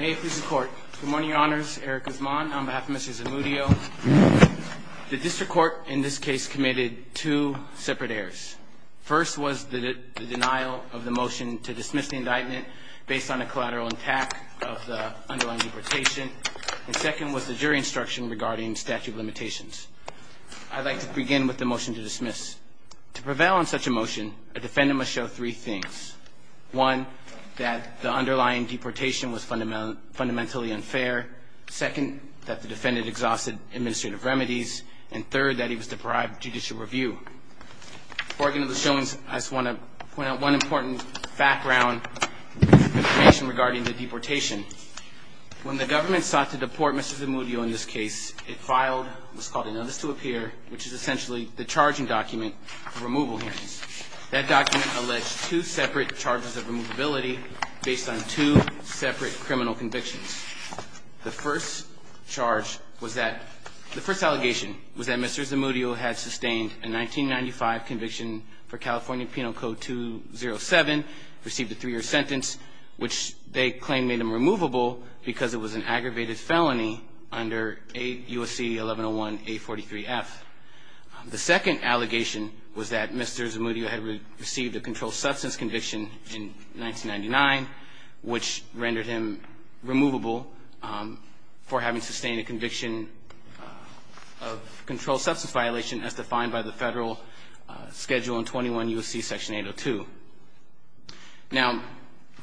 Mayor, please record. Good morning, your honors, Eric Guzman on behalf of Mrs. Zamudio. The district court in this case committed two separate errors. First was the denial of the motion to dismiss the indictment based on a collateral attack of the underlined deportation, and second was the jury instruction regarding statute of limitations. I'd like to begin with the motion to dismiss. To prevail on such a motion, a defendant must show three things. One, that the underlying deportation was fundamentally unfair. Second, that the defendant exhausted administrative remedies. And third, that he was deprived of judicial review. Before I get into the showings, I just want to point out one important background information regarding the deportation. When the government sought to deport Mrs. Zamudio in this case, it filed what's called a notice to appear, which is essentially the charging document for removal hearings. That document alleged two separate charges of removability based on two separate criminal convictions. The first charge was that, the first allegation was that Mrs. Zamudio had sustained a 1995 conviction for California Penal Code 207, received a three-year sentence, which they claim made him removable because it was an Mr. Zamudio had received a controlled substance conviction in 1999, which rendered him removable for having sustained a conviction of controlled substance violation as defined by the federal schedule in 21 U.S.C. Section 802. Now,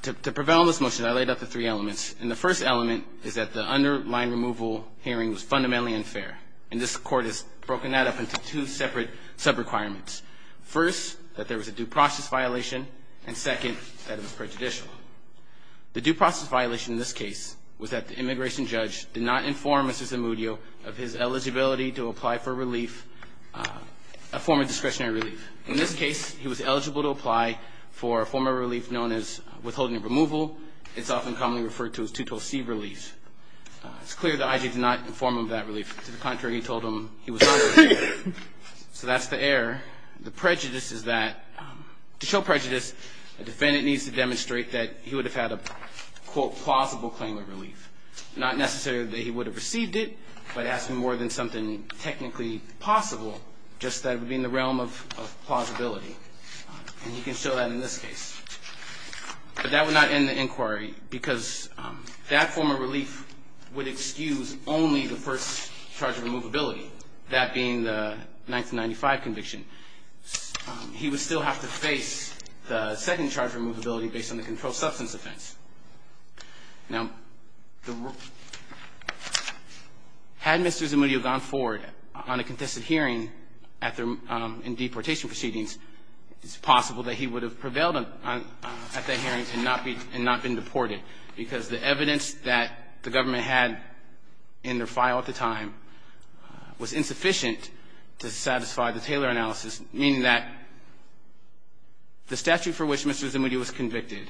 to prevail on this motion, I laid out the three elements. And the first element is that the underlined removal hearing was fundamentally unfair. And this court has broken that up into two separate sub-requirements. First, that there was a due process violation, and second, that it was prejudicial. The due process violation in this case was that the immigration judge did not inform Mr. Zamudio of his eligibility to apply for relief, a form of discretionary relief. In this case, he was eligible to apply for a form of relief known as withholding of removal. It's often commonly referred to as 212C relief. It's clear that I.J. did not inform him of that relief. To the contrary, he told him he was eligible. So that's the error. The prejudice is that, to show prejudice, a defendant needs to demonstrate that he would have had a, quote, plausible claim of relief. Not necessarily that he would have received it, but asking more than something technically possible, just that it would be in the realm of plausibility. And you can show that in this case. But that would not end the inquiry, because that form of relief would excuse only the first charge of removability, that being the 1995 conviction. He would still have to face the second charge of removability based on the controlled substance offense. Had Mr. Zamudio gone forward on a contested hearing in deportation proceedings, it's possible that he would have prevailed at that hearing and not been deported, because the evidence that the government had in their file at the time was insufficient to satisfy the Taylor analysis, meaning that the statute for which Mr. Zamudio was convicted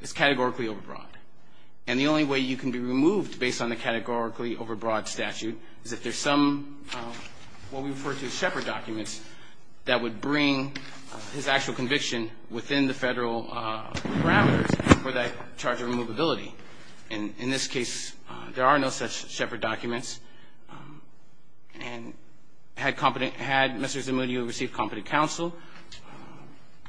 is categorically overbroad. And the only way you can be removed based on the categorically overbroad statute is if there's some of what we refer to as shepherd documents that would bring his actual conviction within the federal parameters for that charge of removability. And in this case, there are no such shepherd documents. And had competent, had Mr. Zamudio received competent counsel,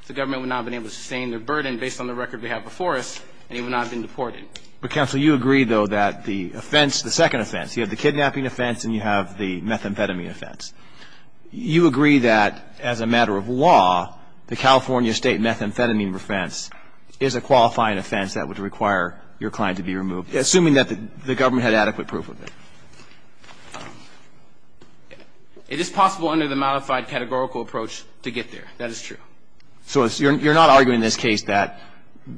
the government would not have been able to sustain the burden based on the record we have before us, and he would not have been deported. But, counsel, you agree, though, that the offense, the second offense, you have the law, the California state methamphetamine offense, is a qualifying offense that would require your client to be removed, assuming that the government had adequate proof of it. It is possible under the modified categorical approach to get there. That is true. So you're not arguing in this case that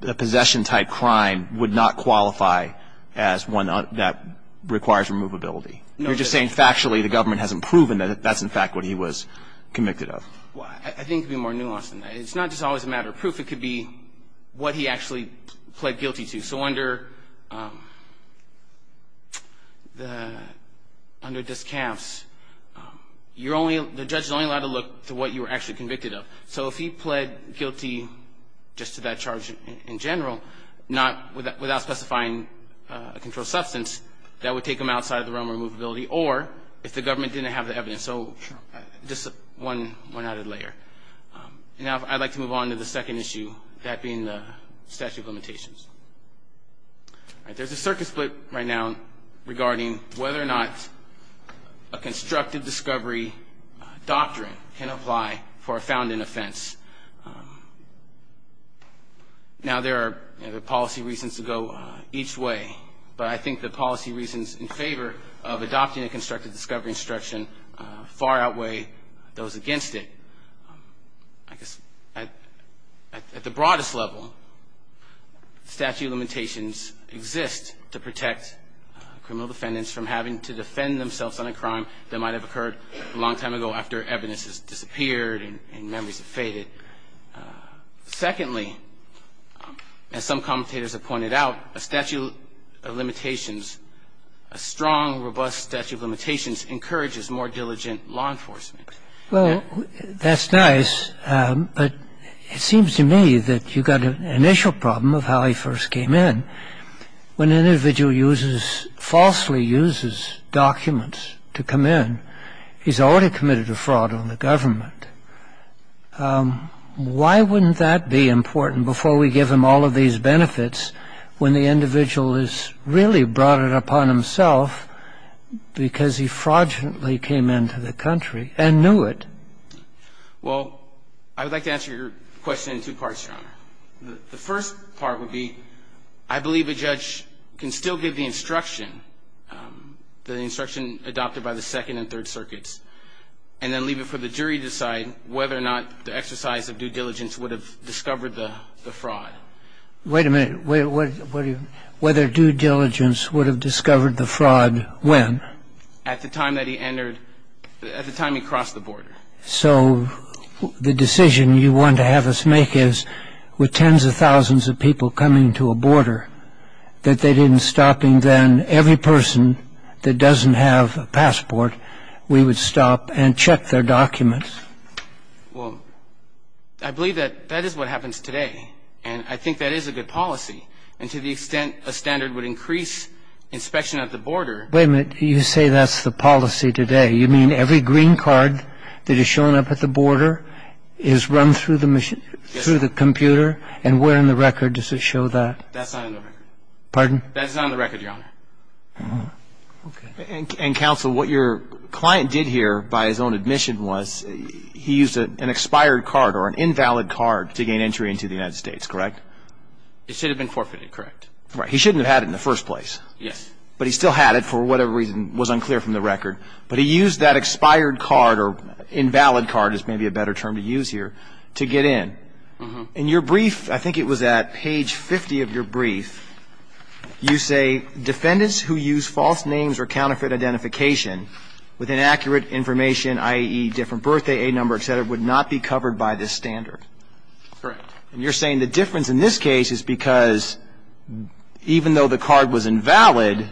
a possession-type crime would not qualify as one that requires removability. You're just saying factually the government hasn't proven that that's, in fact, what he was convicted of. I think it would be more nuanced than that. It's not just always a matter of proof. It could be what he actually pled guilty to. So under the, under discounts, you're only, the judge is only allowed to look to what you were actually convicted of. So if he pled guilty just to that charge in general, not, without specifying a controlled substance, that would take him outside the realm of removability, or if the government didn't have the evidence. So just one added layer. Now I'd like to move on to the second issue, that being the statute of limitations. There's a circuit split right now regarding whether or not a constructive discovery doctrine can apply for a founding offense. Now there are policy reasons to go each way, but I think the policy reasons in favor of adopting a constructive discovery instruction far outweigh those against it. I guess at the broadest level, statute of limitations exist to protect criminal defendants from having to defend themselves on a crime that might have occurred a long time ago after evidence has disappeared and memories have faded. Secondly, as some commentators have pointed out, a statute of limitations, a strong, robust statute of limitations encourages more diligent law enforcement. Well, that's nice, but it seems to me that you've got an initial problem of how he first came in. When an individual uses, falsely uses documents to come in, he's already committed a fraud on the government. Why wouldn't that be important before we give him all of these benefits when the individual has really brought it upon himself because he fraudulently came into the country and knew it? Well, I would like to answer your question in two parts, Your Honor. The first part would be I believe a judge can still give the instruction, the instruction adopted by the Second and Third Circuits, and then leave it for the jury to decide whether or not the exercise of due diligence would have discovered the fraud. Wait a minute. Whether due diligence would have discovered the fraud when? At the time that he entered, at the time he crossed the border. So the decision you want to have us make is with tens of thousands of people coming to a border, that they didn't stop, and then every person that doesn't have a passport, we would stop and check their documents? Well, I believe that that is what happens today, and I think that is a good policy. And to the extent a standard would increase inspection at the border Wait a minute. You say that's the policy today. You mean every green card that is shown up at the border is run through the computer, and where in the record does it show that? That's not in the record. Pardon? That's not in the record, Your Honor. And, Counsel, what your client did here by his own admission was he used an expired card or an invalid card to gain entry into the United States, correct? It should have been forfeited, correct? Right. He shouldn't have had it in the first place. Yes. But he still had it for whatever reason was unclear from the record. But he used that expired card or invalid card, is maybe a better term to use here, to get in. In your brief, I think it was at page 50 of your brief, you say, Defendants who use false names or counterfeit identification with inaccurate information, i.e., different birthday, A number, et cetera, would not be covered by this standard. Correct. And you're saying the difference in this case is because even though the card was invalid,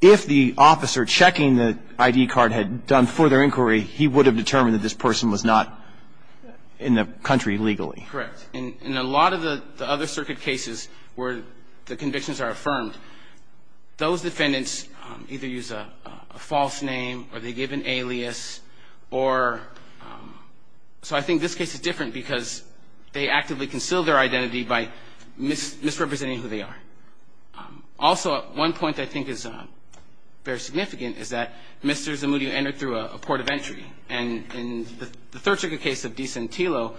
if the officer checking the ID card had done further inquiry, he would have determined that this person was not in the country legally. Correct. In a lot of the other circuit cases where the convictions are affirmed, those defendants either use a false name or they give an alias or So I think this case is different because they actively conceal their identity by misrepresenting who they are. Also, one point I think is very significant is that Mr. Zamudio entered through a port of entry. And in the third circuit case of De Santillo,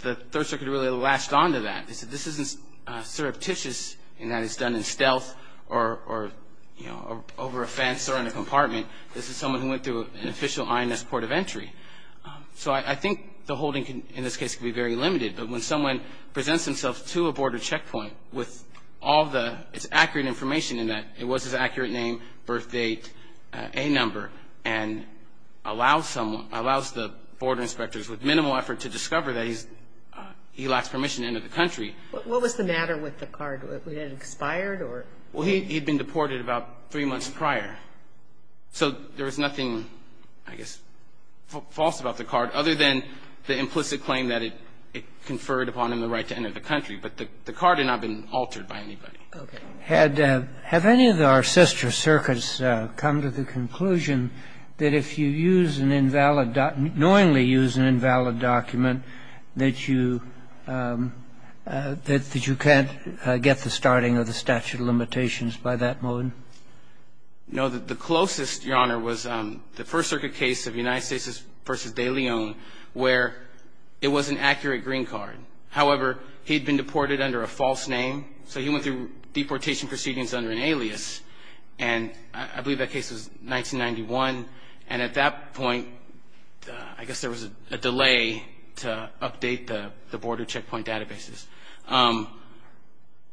the third circuit really latched onto that. They said this isn't surreptitious in that it's done in stealth or over a fence or in a compartment. This is someone who went through an official INS port of entry. So I think the holding in this case can be very limited. But when someone presents themselves to a border checkpoint with all the accurate information in that it was his accurate name, birthdate, A number, and allows the border inspectors with minimal effort to discover that he lacks permission to enter the country What was the matter with the card? Was it expired? Well, he had been deported about three months prior. So there was nothing, I guess, false about the card other than the implicit claim that it conferred upon him the right to enter the country. But the card had not been altered by anybody. Okay. Have any of our sister circuits come to the conclusion that if you use an invalid knowingly use an invalid document that you can't get the starting of the statute of limitations by that moment? No. The closest, Your Honor, was the first circuit case of United States v. De Leon where it was an accurate green card. However, he had been deported under a false name. So he went through deportation proceedings under an alias. And I believe that case was 1991. And at that point, I guess there was a delay to update the border checkpoint databases.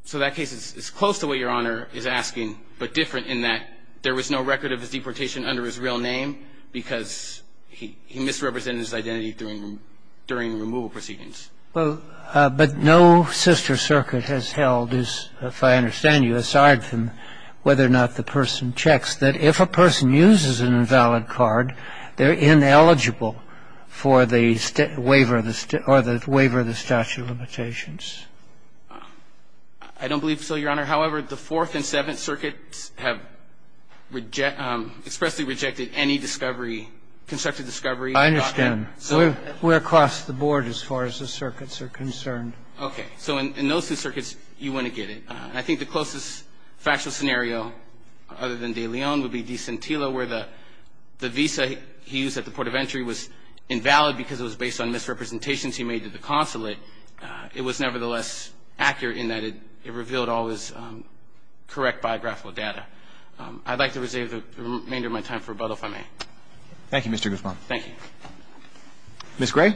So that case is close to what Your Honor is asking, but different in that there was no record of his deportation under his real name because he misrepresented his identity during removal proceedings. But no sister circuit has held, if I understand you, aside from whether or not the person checks, that if a person uses an invalid card, they're ineligible for the waiver of the statute of limitations. I don't believe so, Your Honor. However, the Fourth and Seventh Circuits have expressly rejected any discovery, constructed discovery. I understand. We're across the board as far as the circuits are concerned. Okay. So in those two circuits, you wouldn't get it. I think the closest factual scenario other than De Leon would be De Santillo where the visa he used at the port of entry was invalid because it was based on misrepresentations he made to the consulate. It was nevertheless accurate in that it revealed all his correct biographical data. I'd like to reserve the remainder of my time for rebuttal, if I may. Thank you, Mr. Guzman. Thank you. Ms. Gray.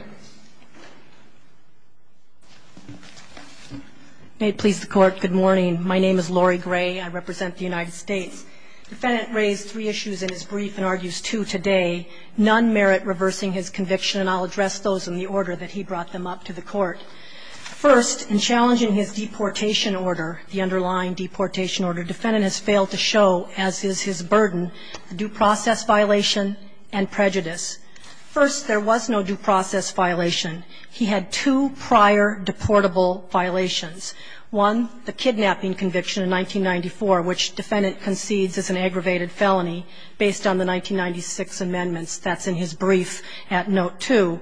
May it please the Court, good morning. My name is Lori Gray. I represent the United States. The defendant raised three issues in his brief and argues two today. None merit reversing his conviction, and I'll address those in the order that he brought them up to the Court. First, in challenging his deportation order, the underlying deportation order, the defendant has failed to show, as is his burden, a due process violation and prejudice. First, there was no due process violation. He had two prior deportable violations. One, the kidnapping conviction in 1994, which defendant concedes is an aggravated felony based on the 1996 amendments. That's in his brief at Note 2.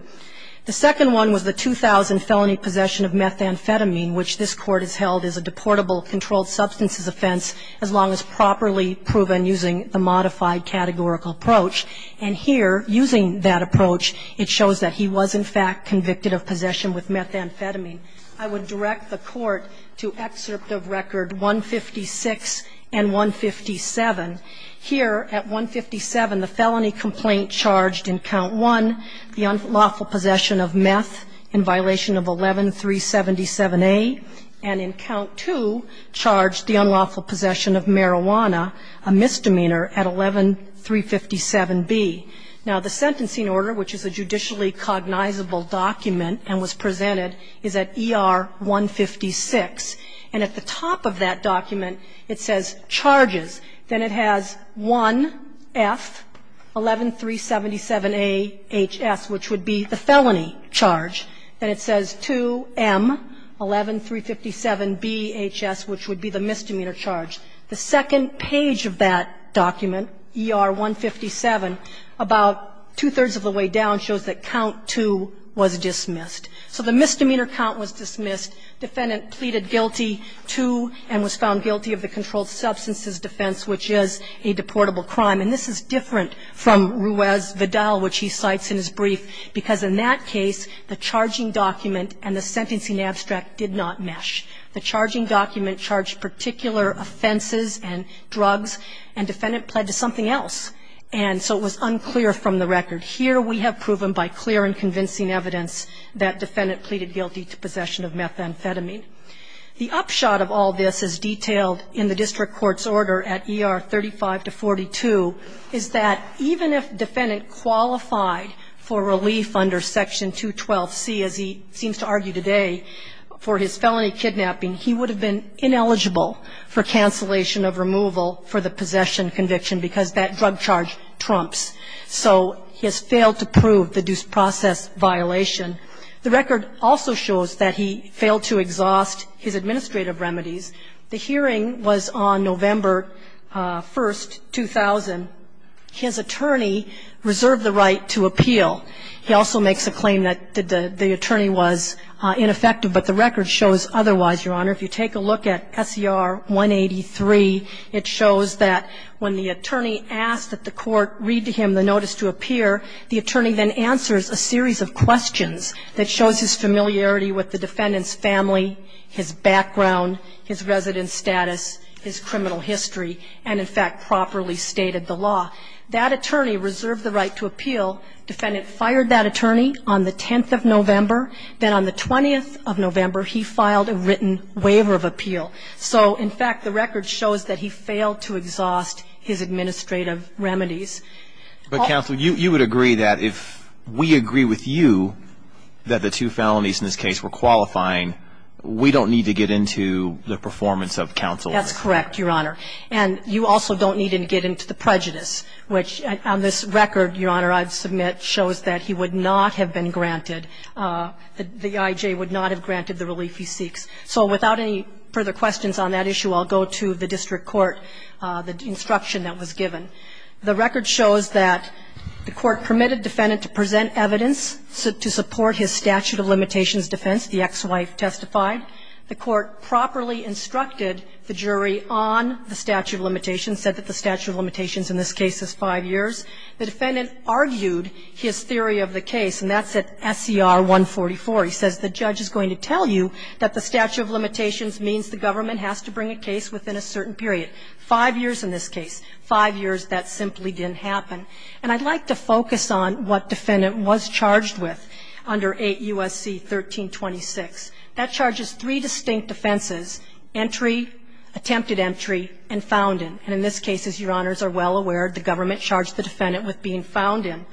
The second one was the 2000 felony possession of methamphetamine, which this Court has held as a deportable controlled substances offense as long as properly proven using the modified categorical approach. And here, using that approach, it shows that he was in fact convicted of possession with methamphetamine. I would direct the Court to excerpt of record 156 and 157. Here, at 157, the felony complaint charged in Count 1, the unlawful possession of meth in violation of 11-377A, and in Count 2, charged the unlawful possession of marijuana, a misdemeanor, at 11-357B. Now, the sentencing order, which is a judicially cognizable document and was presented, is at ER 156. And at the top of that document, it says charges. Then it has 1F-11-377AHS, which would be the felony charge. Then it says 2M-11-357BHS, which would be the misdemeanor charge. The second page of that document, ER 157, about two-thirds of the way down, shows that Count 2 was dismissed. So the misdemeanor count was dismissed. Defendant pleaded guilty to and was found guilty of the controlled substances defense, which is a deportable crime. And this is different from Ruiz-Vidal, which he cites in his brief, because in that case, the charging document and the sentencing abstract did not mesh. The charging document charged particular offenses and drugs, and defendant pled to something else. And so it was unclear from the record. Here, we have proven by clear and convincing evidence that defendant pleaded guilty to possession of methamphetamine. The upshot of all this is detailed in the district court's order at ER 35-42, is that even if defendant qualified for relief under Section 212C, as he seems to be, he would have been ineligible for cancellation of removal for the possession conviction, because that drug charge trumps. So he has failed to prove the due process violation. The record also shows that he failed to exhaust his administrative remedies. The hearing was on November 1, 2000. His attorney reserved the right to appeal. He also makes a claim that the attorney was ineffective, but the record shows otherwise, Your Honor. If you take a look at SCR 183, it shows that when the attorney asked that the court read to him the notice to appear, the attorney then answers a series of questions that shows his familiarity with the defendant's family, his background, his residence status, his criminal history, and, in fact, properly stated the law. That attorney reserved the right to appeal. Defendant fired that attorney on the 10th of November. Then on the 20th of November, he filed a written waiver of appeal. So, in fact, the record shows that he failed to exhaust his administrative remedies. But, counsel, you would agree that if we agree with you that the two felonies in this case were qualifying, we don't need to get into the performance of counsel. That's correct, Your Honor. And you also don't need to get into the prejudice, which on this record, Your Honor, is not being granted. The I.J. would not have granted the relief he seeks. So without any further questions on that issue, I'll go to the district court, the instruction that was given. The record shows that the court permitted defendant to present evidence to support his statute of limitations defense. The ex-wife testified. The court properly instructed the jury on the statute of limitations, said that the statute of limitations in this case is five years. The defendant argued his theory of the case, and that's at SCR 144. He says the judge is going to tell you that the statute of limitations means the government has to bring a case within a certain period. Five years in this case. Five years that simply didn't happen. And I'd like to focus on what defendant was charged with under 8 U.S.C. 1326. That charges three distinct defenses, entry, attempted entry, and found in. And in this case, as Your Honors are well aware, the government charged the defendant with being found in.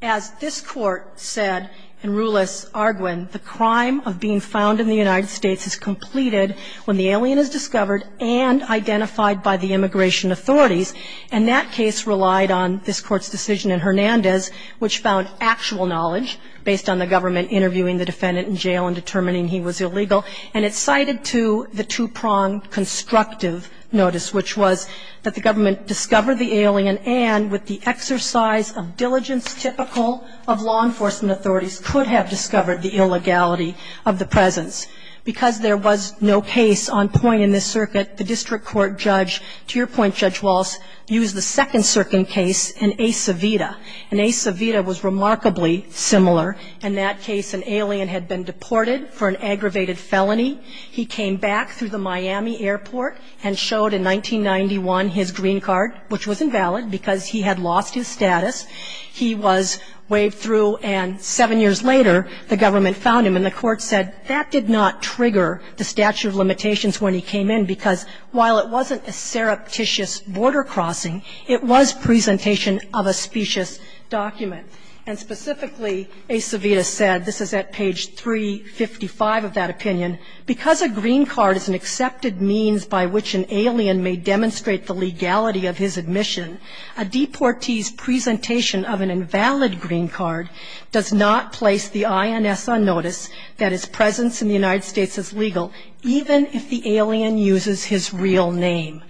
As this court said in Rulis-Arguin, the crime of being found in the United States is completed when the alien is discovered and identified by the immigration authorities. And that case relied on this court's decision in Hernandez, which found actual knowledge based on the government interviewing the defendant in jail and determining he was illegal. And it cited, too, the two-pronged constructive notice, which was that the government discovered the alien and, with the exercise of diligence typical of law enforcement authorities, could have discovered the illegality of the presence. Because there was no case on point in this circuit, the district court judge, to your point, Judge Walz, used the second circuit case in Ace Vida. And Ace Vida was remarkably similar. In that case, an alien had been deported for an aggravated felony. He came back through the Miami airport and showed, in 1991, his green card, which was invalid because he had lost his status. He was waved through, and seven years later, the government found him. And the court said that did not trigger the statute of limitations when he came in because, while it wasn't a surreptitious border crossing, it was presentation of a specious document. And specifically, Ace Vida said, this is at page 355 of that opinion, because a green card is an accepted means by which an alien may demonstrate the legality of his admission, a deportee's presentation of an invalid green card does not place the INS on notice that his presence in the United States is legal, even if the alien uses his real name.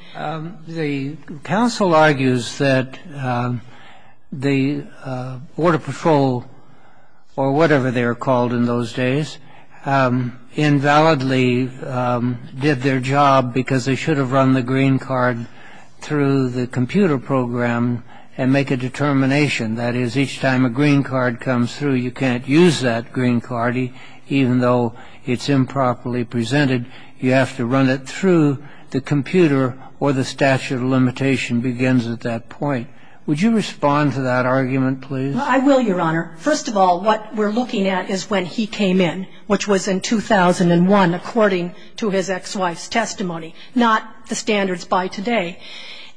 The counsel argues that the border patrol, or whatever they were called in those days, invalidly did their job because they should have run the green card through the computer program and make a determination. That is, each time a green card comes through, you can't use that green card, even though it's improperly presented. You have to run it through the computer, or the statute of limitation begins at that point. Would you respond to that argument, please? Well, I will, Your Honor. First of all, what we're looking at is when he came in, which was in 2001, according to his ex-wife's testimony, not the standards by today.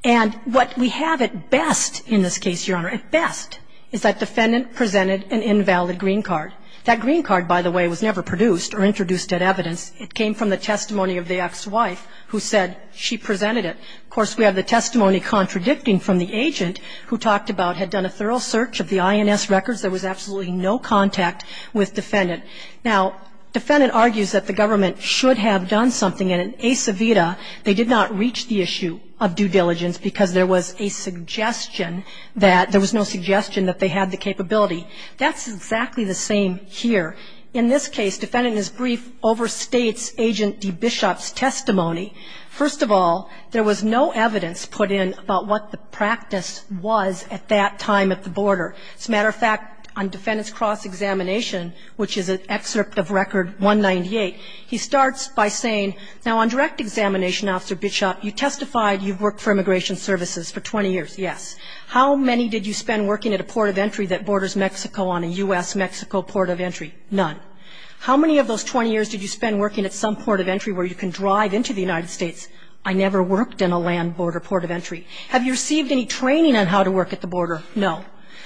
And what we have at best in this case, Your Honor, at best, is that defendant presented an invalid green card. That green card, by the way, was never produced or introduced at evidence. It came from the testimony of the ex-wife, who said she presented it. Of course, we have the testimony contradicting from the agent, who talked about had done a thorough search of the INS records. There was absolutely no contact with defendant. Now, defendant argues that the government should have done something. And in Ace Vida, they did not reach the issue of due diligence, because there was a suggestion that there was no suggestion that they had the capability. That's exactly the same here. In this case, defendant in his brief overstates Agent D. Bishop's testimony. First of all, there was no evidence put in about what the practice was at that time at the border. As a matter of fact, on defendant's cross-examination, which is an excerpt of Record 198, he starts by saying, now, on direct examination, Officer Bishop, you testified you've worked for immigration services for 20 years. Yes. How many did you spend working at a port of entry that borders Mexico on a U.S.-Mexico port of entry? None. How many of those 20 years did you spend working at some port of entry where you can drive into the United States? I never worked in a land border port of entry. Have you received any training on how to work at the border? No.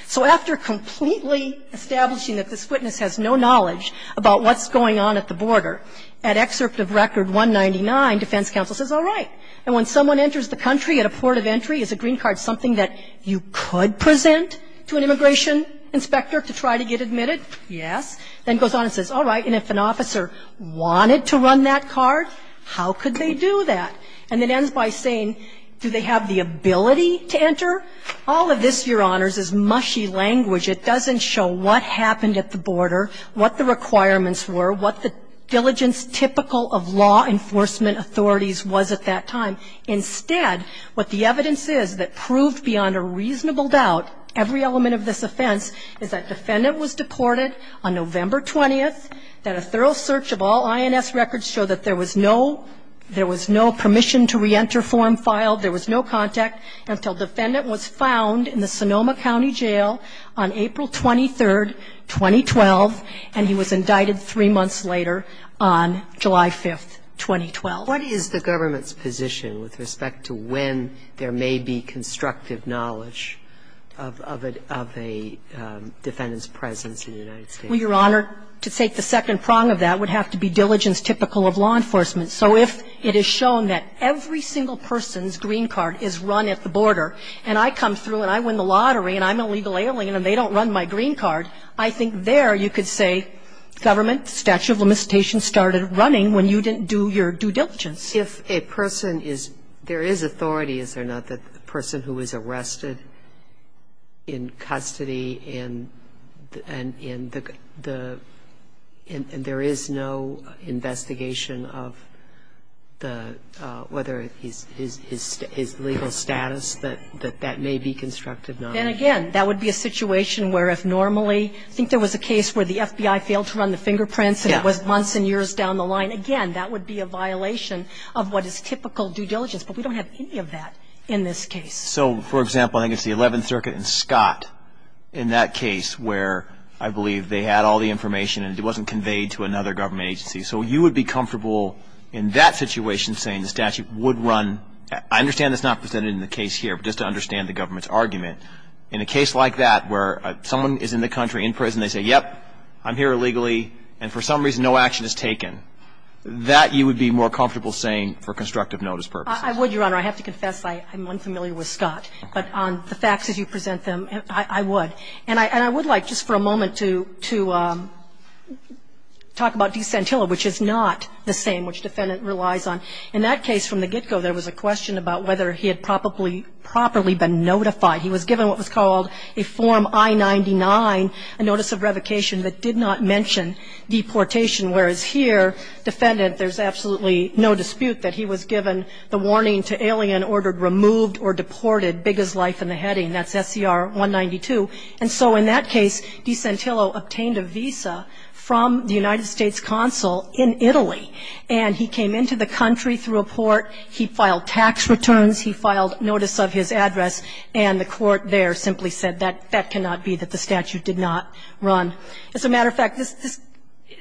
So after completely establishing that this witness has no knowledge about what's going on at the border, at excerpt of Record 199, defense counsel says, all right. And when someone enters the country at a port of entry, is a green card something that you could present to an immigration inspector to try to get admitted? Yes. Then goes on and says, all right, and if an officer wanted to run that card, how could they do that? And it ends by saying, do they have the ability to enter? All of this, Your Honors, is mushy language. It doesn't show what happened at the border, what the requirements were, what the diligence typical of law enforcement authorities was at that time. Instead, what the evidence is that proved beyond a reasonable doubt every element of this offense is that defendant was deported on November 20th, that a thorough search of all INS records showed that there was no permission to reenter form filed, there was no contact, until defendant was found in the Sonoma County Jail on April 23rd, 2012, and he was indicted three months later on July 5th, 2012. What is the government's position with respect to when there may be constructive knowledge of a defendant's presence in the United States? Well, Your Honor, to take the second prong of that would have to be diligence typical of law enforcement. So if it is shown that every single person's green card is run at the border and I come through and I win the lottery and I'm a legal alien and they don't run my green card, I think there you could say, government, statute of limitations started running when you didn't do your due diligence. If a person is, there is authority, is there not, that the person who is arrested in custody and in the, and there is no investigation of the, whether his legal status, that that may be constructive knowledge. Then again, that would be a situation where if normally, I think there was a case where the FBI failed to run the fingerprints and it was months and years down the road, then you would have a situation of what is typical due diligence. But we don't have any of that in this case. So, for example, I think it's the 11th Circuit and Scott in that case where I believe they had all the information and it wasn't conveyed to another government agency. So you would be comfortable in that situation saying the statute would run, I understand that's not presented in the case here, but just to understand the government's argument. In a case like that where someone is in the country in prison, they say, yep, I'm here illegally and for some reason no action is taken. That you would be more comfortable saying for constructive notice purposes. I would, Your Honor. I have to confess I'm unfamiliar with Scott. But on the facts as you present them, I would. And I would like just for a moment to talk about De Santillo, which is not the same, which the defendant relies on. In that case from the get-go, there was a question about whether he had properly been notified. He was given what was called a Form I-99, a notice of revocation that did not mention deportation, whereas here, defendant, there's absolutely no dispute that he was given the warning to alien ordered removed or deported, big as life in the heading. That's SCR-192. And so in that case, De Santillo obtained a visa from the United States consul in Italy. And he came into the country through a port. He filed tax returns. He filed notice of his address. And the court there simply said that that cannot be, that the statute did not run. As a matter of fact,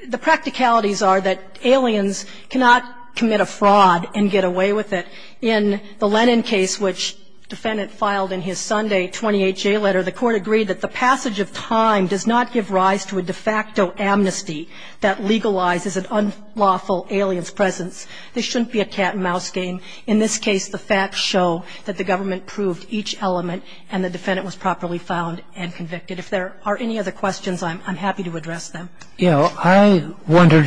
the practicalities are that aliens cannot commit a fraud and get away with it. In the Lennon case, which defendant filed in his Sunday 28-J letter, the court agreed that the passage of time does not give rise to a de facto amnesty that legalizes an unlawful alien's presence. This shouldn't be a cat and mouse game. In this case, the facts show that the government proved each element and the defendant was properly found and convicted. If there are any other questions, I'm happy to address them. I wondered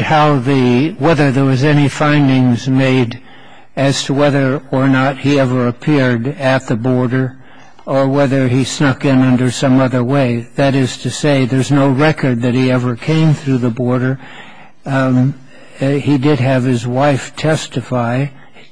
whether there was any findings made as to whether or not he ever appeared at the border or whether he snuck in under some other way. That is to say, there's no record that he ever came through the border. He did have his wife testify.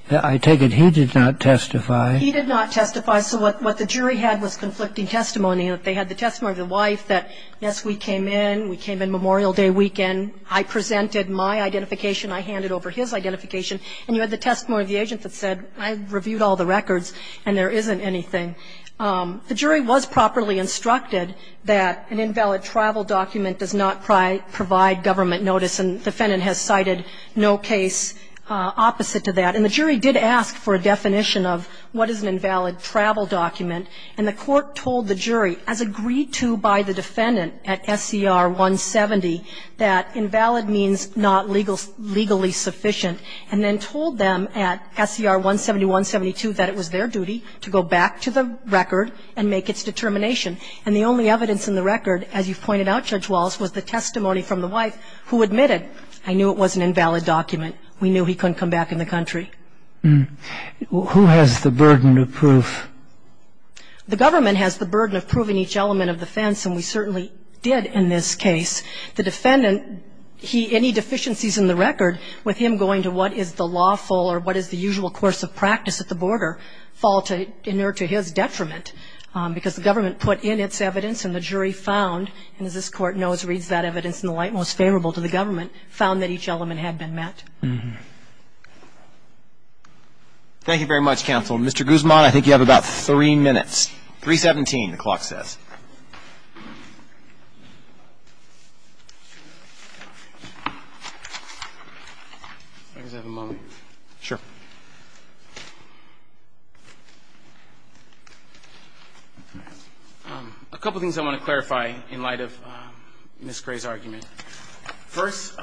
I take it he did not testify. He did not testify. So what the jury had was conflicting testimony. They had the testimony of the wife that, yes, we came in. We came in Memorial Day weekend. I presented my identification. I handed over his identification. And you had the testimony of the agent that said, I reviewed all the records and there isn't anything. The jury was properly instructed that an invalid travel document does not provide government notice. And the defendant has cited no case opposite to that. And the jury did ask for a definition of what is an invalid travel document. And the court told the jury, as agreed to by the defendant at SCR 170, that invalid means not legally sufficient, and then told them at SCR 170, 172, that it was their duty to go back to the record and make its determination. And the only evidence in the record, as you pointed out, Judge Wallace, was the testimony from the wife who admitted, I knew it was an invalid document. We knew he couldn't come back in the country. Who has the burden of proof? The government has the burden of proving each element of defense, and we certainly did in this case. The defendant, any deficiencies in the record, with him going to what is the lawful or what is the usual course of practice at the border, fall to his detriment because the government put in its evidence and the jury found, and as this Court knows, reads that evidence in the light most favorable to the government, found that each element had been met. Thank you very much, counsel. Mr. Guzman, I think you have about three minutes. 317, the clock says. I just have a moment. Sure. A couple of things I want to clarify in light of Ms. Gray's argument. First,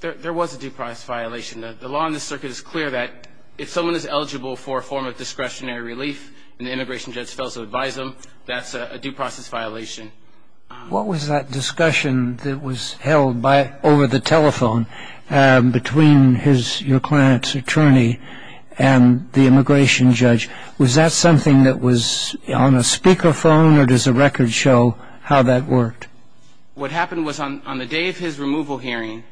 there was a due process violation. The law in this circuit is clear that if someone is eligible for a form of discretionary relief and the immigration judge fails to advise them, that's a due process violation. What was that discussion that was held over the telephone between your client's attorney and the immigration judge? Was that something that was on a speakerphone or does the record show how that worked? What happened was on the day of his removal hearing,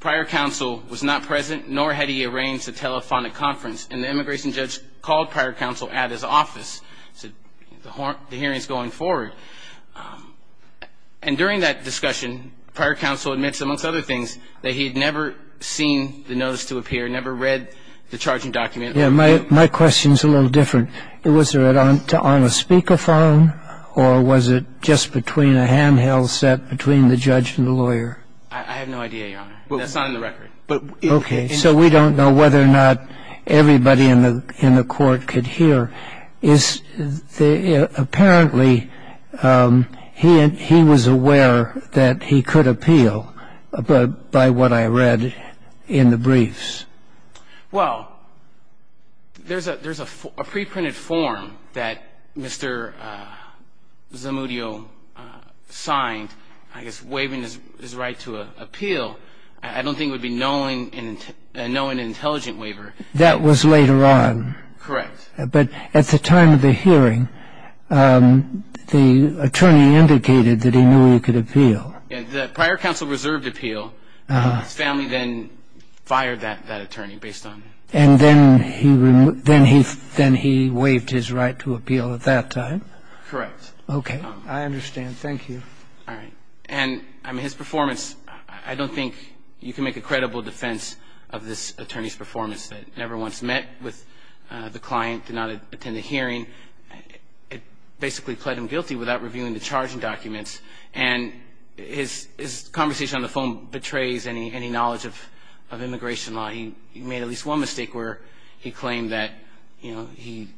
prior counsel was not present, nor had he arranged a telephonic conference, and the immigration judge called prior counsel at his office, said the hearing is going forward. And during that discussion, prior counsel admits, amongst other things, that he had never seen the notice to appear, never read the charging document. Yeah, my question is a little different. Was it on a speakerphone or was it just between a handheld set between the judge and the lawyer? I have no idea, Your Honor. That's not in the record. Okay. So we don't know whether or not everybody in the court could hear. Apparently, he was aware that he could appeal by what I read in the briefs. Well, there's a preprinted form that Mr. Zamudio signed, I guess waiving his right to appeal. I don't think it would be knowing an intelligent waiver. That was later on. Correct. But at the time of the hearing, the attorney indicated that he knew he could appeal. Yeah, the prior counsel reserved appeal. His family then fired that attorney based on that. And then he waived his right to appeal at that time? Correct. Okay. I understand. Thank you. All right. And, I mean, his performance, I don't think you can make a credible defense of this attorney's performance that never once met with the client, did not attend the hearing. It basically pled him guilty without reviewing the charging documents. And his conversation on the phone betrays any knowledge of immigration law. He made at least one mistake where he claimed that he's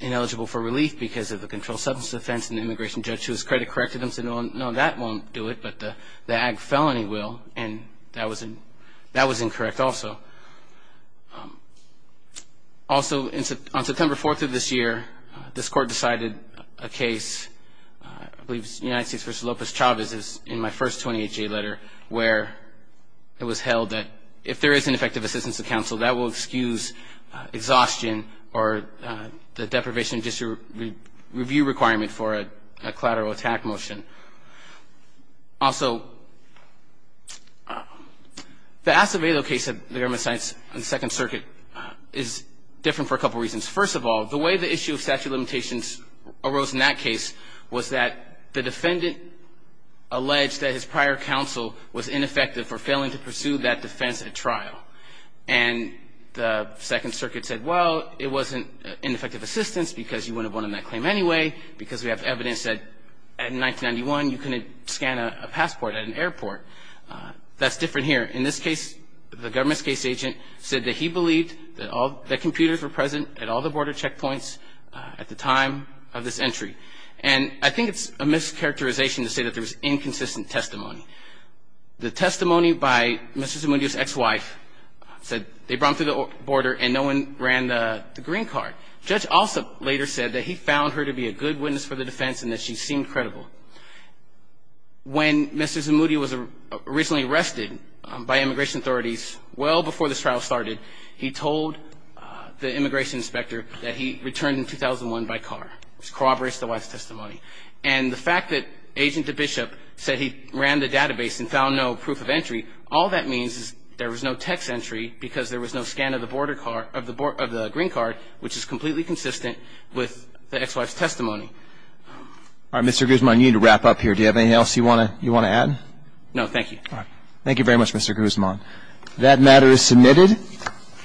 ineligible for relief because of a controlled substance offense. And the immigration judge, to his credit, corrected him and said, no, that won't do it, but the ag felony will. And that was incorrect also. Also, on September 4th of this year, this court decided a case, I believe it was United States v. Lopez-Chavez in my first 28-J letter where it was held that if there is ineffective assistance of counsel, that will excuse exhaustion or the deprivation of judicial review requirement for a collateral attack motion. Also, the Acevedo case of the Government of the Second Circuit is different for a couple reasons. First of all, the way the issue of statute of limitations arose in that case was that the defendant alleged that his prior counsel was ineffective for failing to pursue that defense at trial. And the Second Circuit said, well, it wasn't ineffective assistance because you wouldn't have won on that claim anyway because we have evidence that in 1991 you couldn't scan a passport at an airport. That's different here. In this case, the government's case agent said that he believed that computers were present at all the border checkpoints at the time of this entry. And I think it's a mischaracterization to say that there was inconsistent testimony. The testimony by Mr. Zamudio's ex-wife said they brought him through the border and no one ran the green card. Judge Alsup later said that he found her to be a good witness for the defense and that she seemed credible. When Mr. Zamudio was originally arrested by immigration authorities well before this trial started, he told the immigration inspector that he returned in 2001 by car, which corroborates the wife's testimony. And the fact that Agent DeBishop said he ran the database and found no proof of entry, all that means is there was no text entry because there was no scan of the green card which is completely consistent with the ex-wife's testimony. All right, Mr. Guzman, you need to wrap up here. Do you have anything else you want to add? No, thank you. All right. Thank you very much, Mr. Guzman. That matter is submitted.